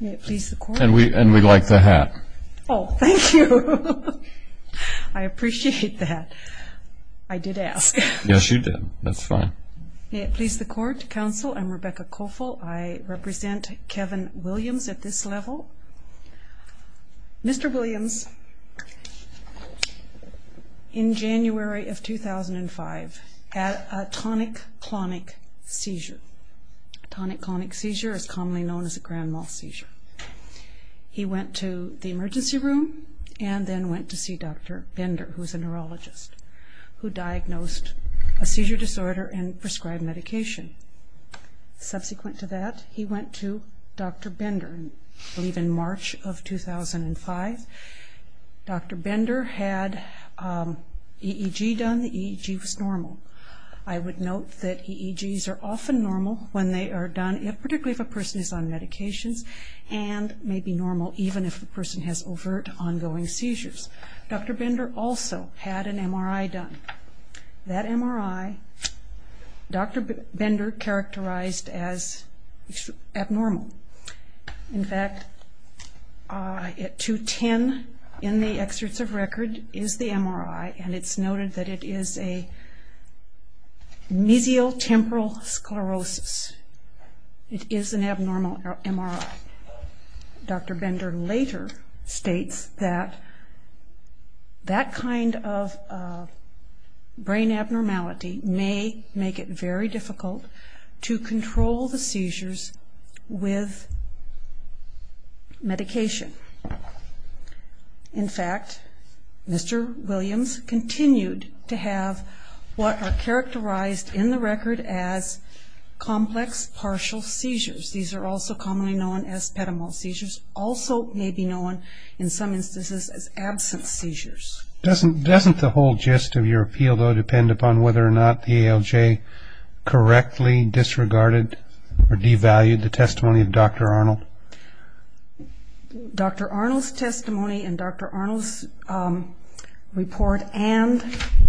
And we like the hat. Oh thank you. I appreciate that. I did ask. Yes you did. That's fine. May it please the court, counsel, I'm Rebecca Koffel. I represent Kevin Williams at this level. Mr. Williams in January of 2005 had a tonic-clonic seizure. Tonic-clonic seizure is commonly known as grand mal seizure. He went to the emergency room and then went to see Dr. Bender, who is a neurologist, who diagnosed a seizure disorder and prescribed medication. Subsequent to that he went to Dr. Bender, I believe in March of 2005. Dr. Bender had EEG done. The EEG was normal. I would note that EEGs are often normal when they are done, particularly if a person is on medications, and may be normal even if a person has overt, ongoing seizures. Dr. Bender also had an MRI done. That MRI, Dr. Bender characterized as abnormal. In fact, at 210 in the excerpts of record is the MRI and it's noted that it is a mesial temporal sclerosis. It is an abnormal MRI. Dr. Bender later states that that kind of brain abnormality may make it very difficult to control the seizures with medication. In fact, Mr. Williams continued to have what are characterized in the record as complex partial seizures. These are also commonly known as pedemol seizures, also may be known in some instances as absence seizures. Doesn't the whole gist of your appeal, though, depend upon whether or not the ALJ correctly disregarded or devalued the testimony of Dr. Arnold? Dr. Arnold's report and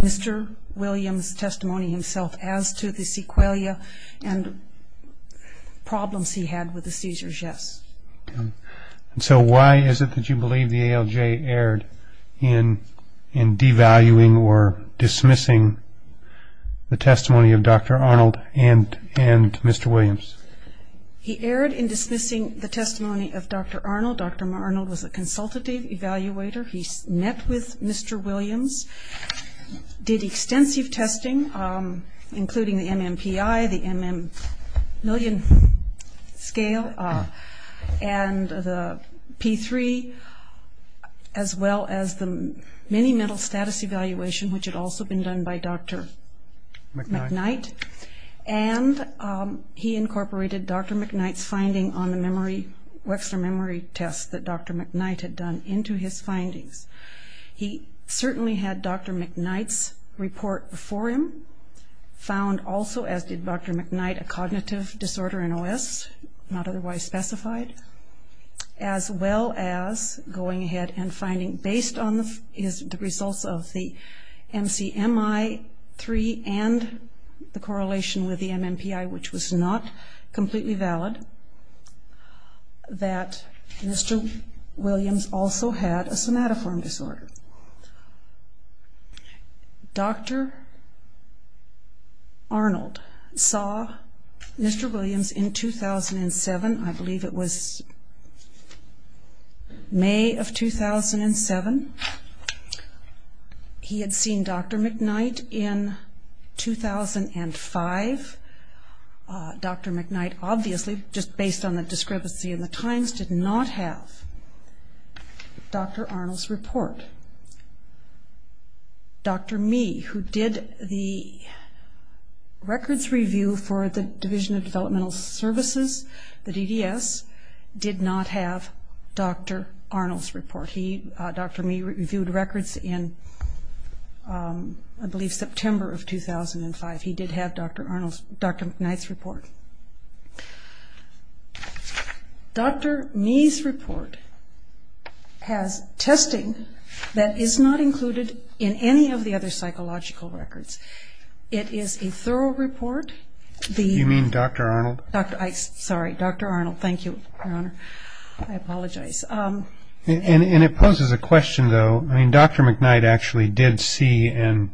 Mr. Williams' testimony himself as to the sequelae and problems he had with the seizures, yes. So why is it that you believe the ALJ erred in devaluing or dismissing the testimony of Dr. Arnold and Mr. Williams? He erred in dismissing the testimony of Dr. Arnold. Dr. Arnold was a consultative evaluator. He met with Mr. Williams, did extensive testing, including the MMPI, the MM million scale, and the P3, as well as the mini mental status evaluation, which had also been done by Dr. McKnight. And he incorporated Dr. McKnight's finding on the Wexner memory test that Dr. McKnight had done into his findings. He certainly had Dr. McKnight's report before him, found also, as did Dr. McKnight, a cognitive disorder, an OS, not otherwise specified, as well as going ahead and finding, based on the results of the MCMI-3 and the correlation with that Mr. Williams also had a somatoform disorder. Dr. Arnold saw Mr. Williams in 2007. I believe it was May of 2007. He had seen Dr. McKnight in 2005. Dr. McKnight, based on the discrepancy in the times, did not have Dr. Arnold's report. Dr. Mee, who did the records review for the Division of Developmental Services, the DDS, did not have Dr. Arnold's report. Dr. Mee reviewed records in, I believe, September of 2005. He did have Dr. McKnight's report. Dr. Mee's report has testing that is not included in any of the other psychological records. It is a thorough report. You mean Dr. Arnold? Sorry, Dr. Arnold. Thank you, Your Honor. I apologize. And it poses a question, though. Dr. McKnight actually did see and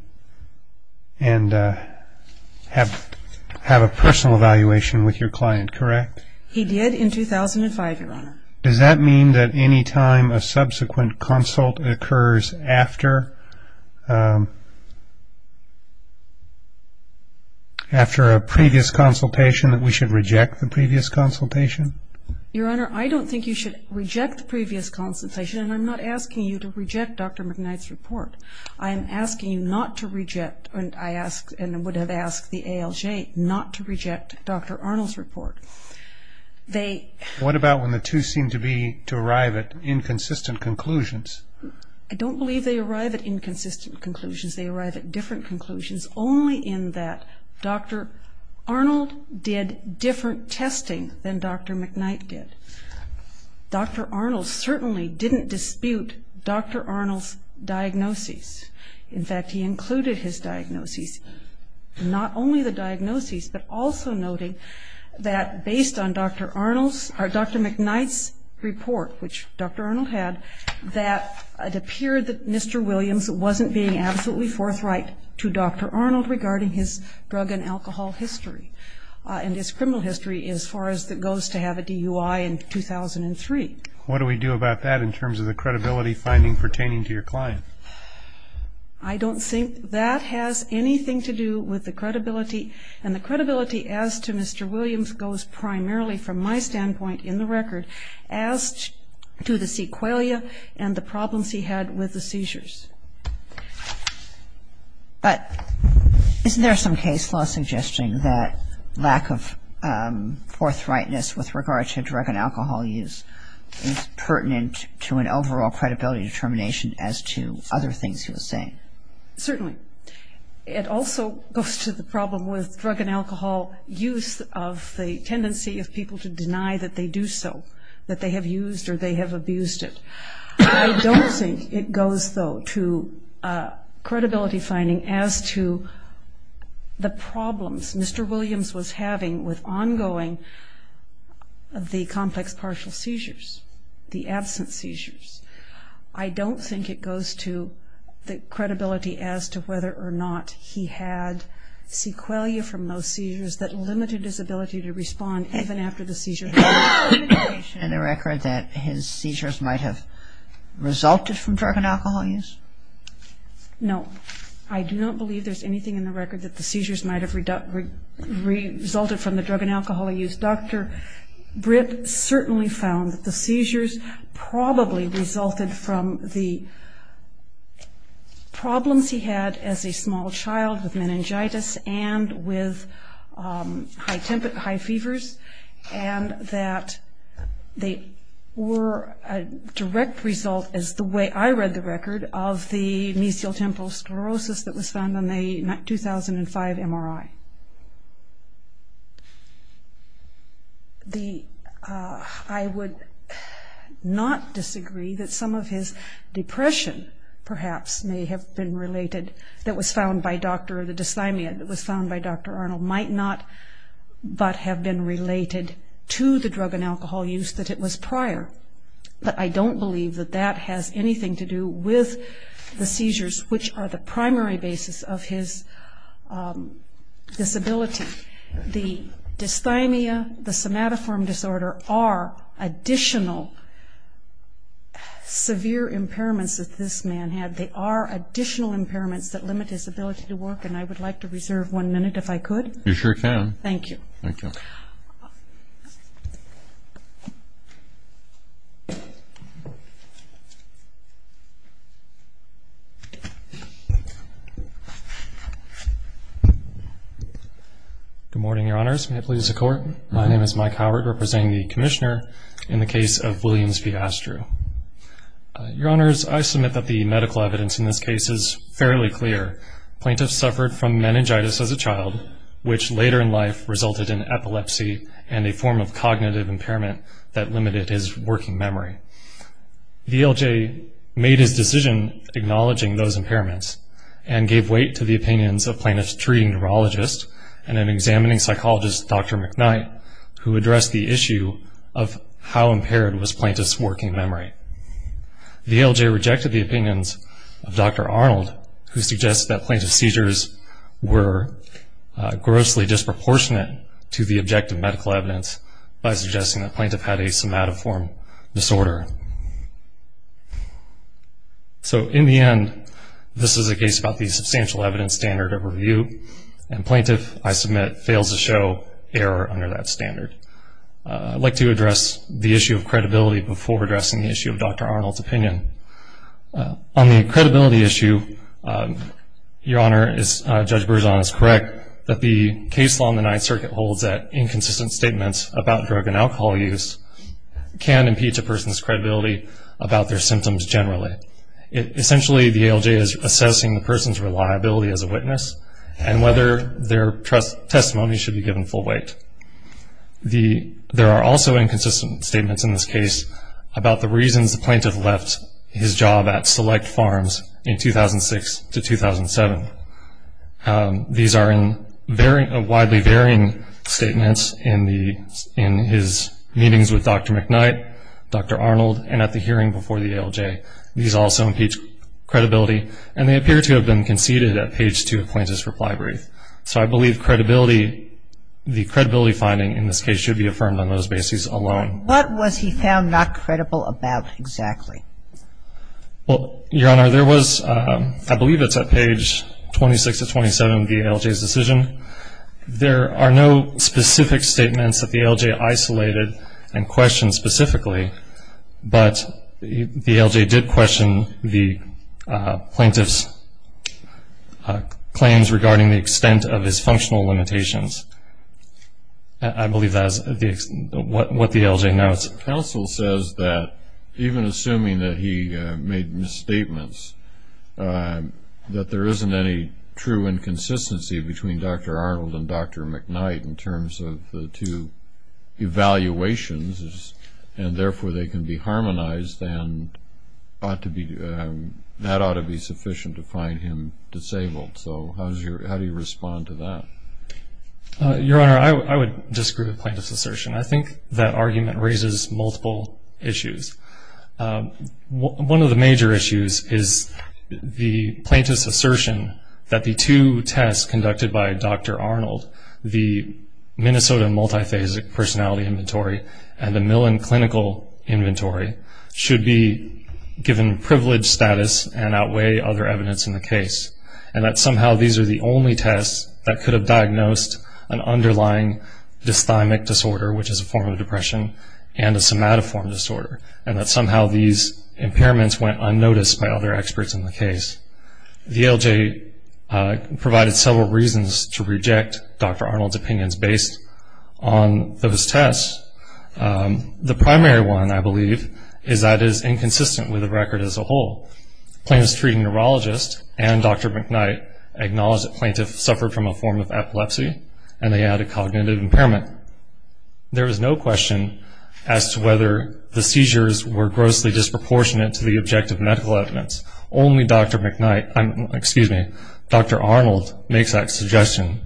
have a personal evaluation with your client, correct? He did in 2005, Your Honor. Does that mean that any time a subsequent consult occurs after a previous consultation that we should reject the previous consultation? Your Honor, I don't think you should reject the previous consultation, and I'm not asking you to reject Dr. McKnight's report. I'm asking you not to reject, and I would have asked the ALJ, not to reject Dr. Arnold's report. What about when the two seem to arrive at inconsistent conclusions? I don't believe they arrive at inconsistent conclusions. They arrive at different conclusions, only in that Dr. Arnold did different testing than Dr. McKnight did. Dr. Arnold certainly didn't dispute Dr. Arnold's diagnoses. In fact, he included his diagnoses, not only the diagnoses, but also noting that based on Dr. Arnold's, or Dr. McKnight's report, which Dr. Arnold had, that it appeared that Mr. Williams wasn't being absolutely forthright to Dr. Arnold regarding his drug and alcohol history, and his criminal history as far as that goes to have a DUI in 2003. What do we do about that in terms of the credibility finding pertaining to your client? I don't think that has anything to do with the credibility, and the credibility as to Mr. Williams goes primarily from my standpoint in the record as to the problems he had with the seizures. But isn't there some case law suggesting that lack of forthrightness with regard to drug and alcohol use is pertinent to an overall credibility determination as to other things he was saying? Certainly. It also goes to the problem with drug and alcohol use of the tendency of people to deny that they do so, that they have used or they have I don't think it goes though to credibility finding as to the problems Mr. Williams was having with ongoing of the complex partial seizures, the absent seizures. I don't think it goes to the credibility as to whether or not he had sequelae from those seizures that limited his ability to respond even after the seizures might have resulted from drug and alcohol use. No, I do not believe there's anything in the record that the seizures might have resulted from the drug and alcohol use. Dr. Britt certainly found the seizures probably resulted from the problems he had as a small child with meningitis and with high fevers and that they were a direct result as the way I read the record of the mesial temporal sclerosis that was found on the 2005 MRI. I would not disagree that some of his depression perhaps may have been related that was found by Dr. Arnold might not but have been related to the drug and alcohol use that it was prior. I don't believe that that has anything to do with the seizures which are the primary basis of his disability. The dysthymia, the somatoform disorder are additional severe impairments that this man had. They are additional impairments that limit his ability to work and I would like to reserve one minute if I could. You sure can. Thank you. Good morning, Your Honors. May it please the Court. My name is Mike Howard representing the Commissioner in the case of Williams v. Astru. Your Honors, I believe the evidence in this case is fairly clear. Plaintiff suffered from meningitis as a child which later in life resulted in epilepsy and a form of cognitive impairment that limited his working memory. The LJ made his decision acknowledging those impairments and gave weight to the opinions of plaintiff's treating neurologist and an examining psychologist, Dr. McKnight, who addressed the issue of how impaired was plaintiff's working memory. The LJ rejected the opinion of Dr. Arnold who suggested that plaintiff's seizures were grossly disproportionate to the objective medical evidence by suggesting that plaintiff had a somatoform disorder. So in the end, this is a case about the substantial evidence standard of review and plaintiff, I submit, fails to show error under that standard. I'd like to address the issue of credibility before addressing the issue of Dr. Arnold's opinion. On the credibility issue, Your Honor, Judge Berzon is correct that the case law in the Ninth Circuit holds that inconsistent statements about drug and alcohol use can impeach a person's credibility about their symptoms generally. Essentially, the LJ is assessing the person's reliability as a witness and whether their testimony should be given full weight. There are also inconsistent statements in this case about the reasons the plaintiff left his job at Select Farms in 2006 to 2007. These are widely varying statements in his meetings with Dr. McKnight, Dr. Arnold, and at the hearing before the LJ. These also impeach credibility and they appear to have been conceded at page two of plaintiff's reply brief. So I believe the credibility finding in this case should be affirmed on those And I think that's what we found not credible about, exactly. Well, Your Honor, there was, I believe it's at page 26 to 27 of the LJ's decision. There are no specific statements that the LJ isolated and questioned specifically, but the LJ did question the plaintiff's claims regarding the extent of his functional limitations. I believe that is what the LJ notes. Counsel says that even assuming that he made misstatements, that there isn't any true inconsistency between Dr. Arnold and Dr. McKnight in terms of the two evaluations, and therefore they can be harmonized and that ought to be sufficient to find him disabled. So how do you respond to that? Your Honor, I would disagree with plaintiff's assertion. I think that argument raises multiple issues. One of the major issues is the plaintiff's assertion that the two tests conducted by Dr. Arnold, the Minnesota Multiphasic Personality Inventory and the Millon Clinical Inventory, should be given privileged status and outweigh other evidence in the case. And that somehow these are the two tests that diagnosed an underlying dysthymic disorder, which is a form of depression, and a somatoform disorder. And that somehow these impairments went unnoticed by other experts in the case. The LJ provided several reasons to reject Dr. Arnold's opinions based on those tests. The primary one, I believe, is that it is inconsistent with the record as a whole. Plaintiff's treating neurologist and Dr. McKnight acknowledge that plaintiff suffered from a form of epilepsy and they had a cognitive impairment. There is no question as to whether the seizures were grossly disproportionate to the objective medical evidence. Only Dr. Arnold makes that suggestion.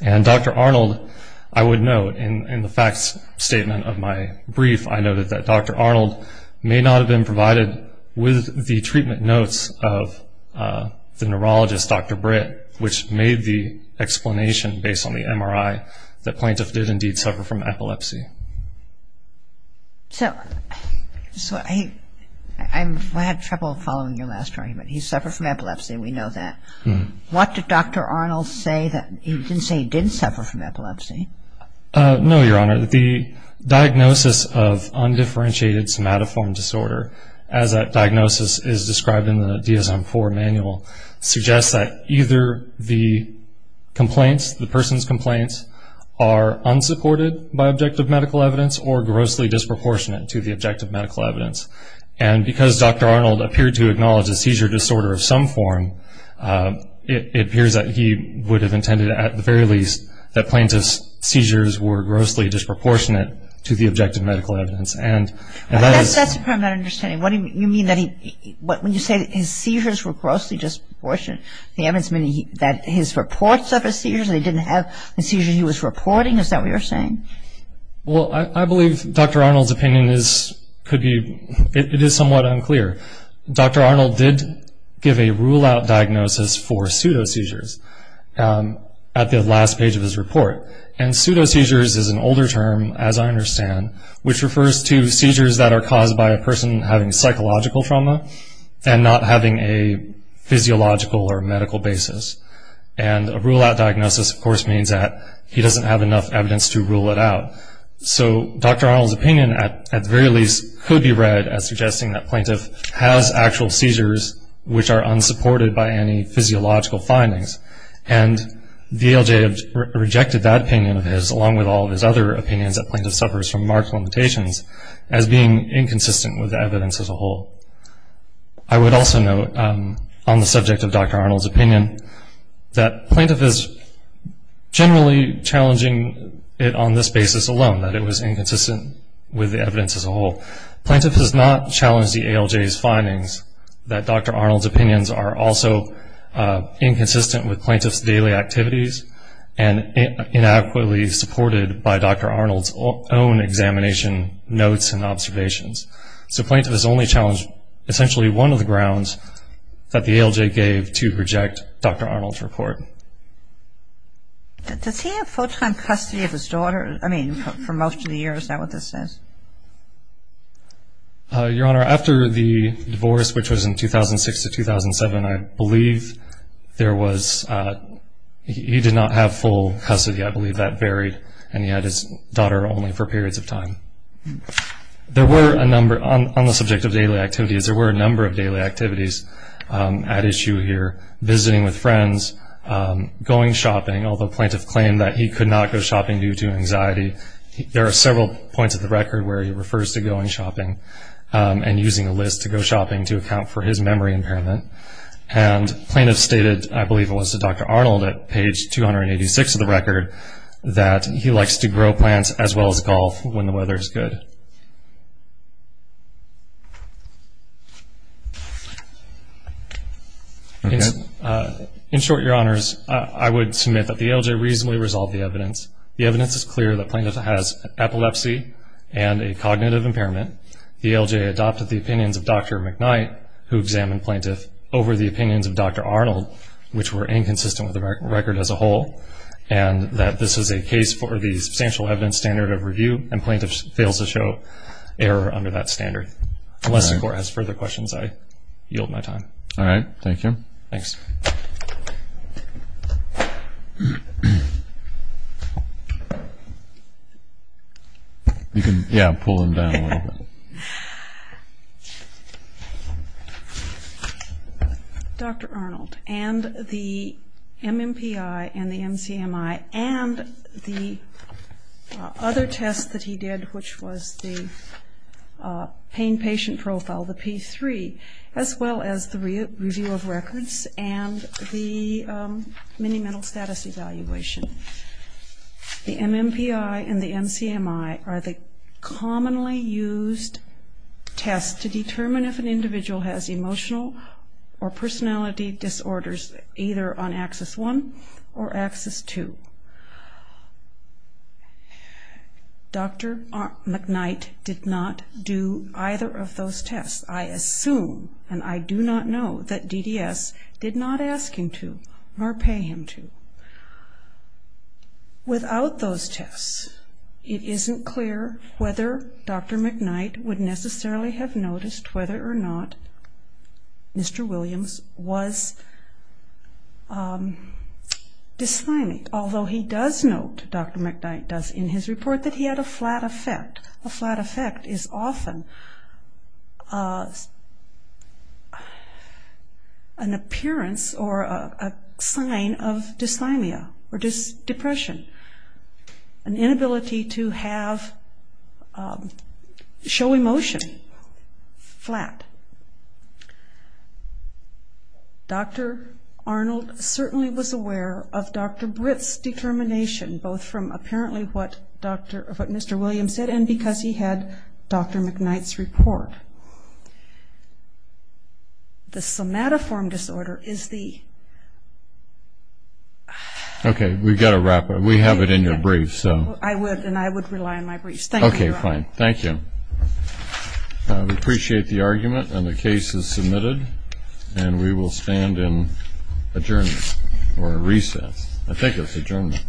And Dr. Arnold, I would note in the facts statement of my brief, I noted that Dr. Arnold may not have been provided with the treatment notes of the neurologist, Dr. Britt, which made the explanation based on the MRI that plaintiff did indeed suffer from epilepsy. So, I had trouble following your last argument. He suffered from epilepsy, we know that. What did Dr. Arnold say that he didn't say he did suffer from epilepsy? No, Your Honor. The diagnosis of undifferentiated somatoform disorder as that diagnosis is described in the DSM-IV manual suggests that either the complaints, the person's complaints, are unsupported by objective medical evidence or grossly disproportionate to the objective medical evidence. And because Dr. Arnold appeared to acknowledge a seizure disorder of some form, it appears that he would have intended at the very least that plaintiff's seizures were grossly disproportionate to the objective medical evidence. That's a problem I'm not understanding. What do you mean that he, when you say his seizures were grossly disproportionate to the evidence, you mean that his reports of his seizures, he didn't have the seizures he was reporting? Is that what you're saying? Well, I believe Dr. Arnold's opinion is, could be, it is somewhat unclear. Dr. Arnold did give a rule-out diagnosis for pseudoseizures at the last page of his report, which refers to seizures that are caused by a person having psychological trauma and not having a physiological or medical basis. And a rule-out diagnosis, of course, means that he doesn't have enough evidence to rule it out. So Dr. Arnold's opinion, at the very least, could be read as suggesting that plaintiff has actual seizures which are unsupported by any physiological findings. And the ALJ rejected that opinion of his, along with all of his other opinions that plaintiff suffers from marked limitations, as being inconsistent with the evidence as a whole. I would also note, on the subject of Dr. Arnold's opinion, that plaintiff is generally challenging it on this basis alone, that it was inconsistent with the evidence as a whole. Plaintiff has not challenged the ALJ's findings that Dr. Arnold's opinions are inconsistent with plaintiff's daily activities and inadequately supported by Dr. Arnold's own examination notes and observations. So plaintiff has only challenged essentially one of the grounds that the ALJ gave to reject Dr. Arnold's report. Does he have full-time custody of his daughter? I mean, for most of the years, is that what this says? Your Honor, after the divorce, which was in 2006 to 2007, I believe there was he did not have full custody. I believe that varied. And he had his daughter only for periods of time. There were a number, on the subject of daily activities, there were a number of daily activities at issue here. Visiting with friends, going shopping, although plaintiff claimed that he could not go without a record where he refers to going shopping and using a list to go shopping to account for his memory impairment. And plaintiff stated, I believe it was to Dr. Arnold at page 286 of the record, that he likes to grow plants as well as golf when the weather is good. In short, Your Honors, I would submit that the ALJ reasonably resolved the issue of the record and a cognitive impairment. The ALJ adopted the opinions of Dr. McKnight, who examined plaintiff, over the opinions of Dr. Arnold, which were inconsistent with the record as a whole, and that this is a case for the substantial evidence standard of review, and plaintiff fails to show error under that standard. Unless the Court has further questions, I yield my time. All right. Thank you. Thanks. Dr. Arnold, and the MMPI and the MCMI, and the other test that he did, which was the pain patient profile, the P3, as well as the review of records and the mini mental status evaluation. The MMPI and the MCMI are the commonly used tests to determine if an individual has emotional or personality disorders, either on Axis 1 or Axis 2. Dr. McKnight did not do either of those tests. I assume, and I do not know, that DDS did not ask him to or pay him to. Without those tests, it isn't clear whether Dr. McKnight would necessarily have noticed whether or not Mr. Williams was dysthymic, although he does note, Dr. McKnight does, in his report that he had a flat effect. A flat effect is often an appearance or a sign of dysthymia or depression, an inability to have, show emotion flat. Dr. Arnold certainly was aware of Dr. Britt's determination, both from apparently what Mr. Williams said and because he had Dr. McKnight's report. The somatoform disorder is the. Okay, we've got to wrap up. We have it in your brief, so. I would, and I would rely on my brief. Okay, fine. Thank you. We appreciate the argument, and the case is submitted, and we will stand in adjournment or recess. I think it's adjournment.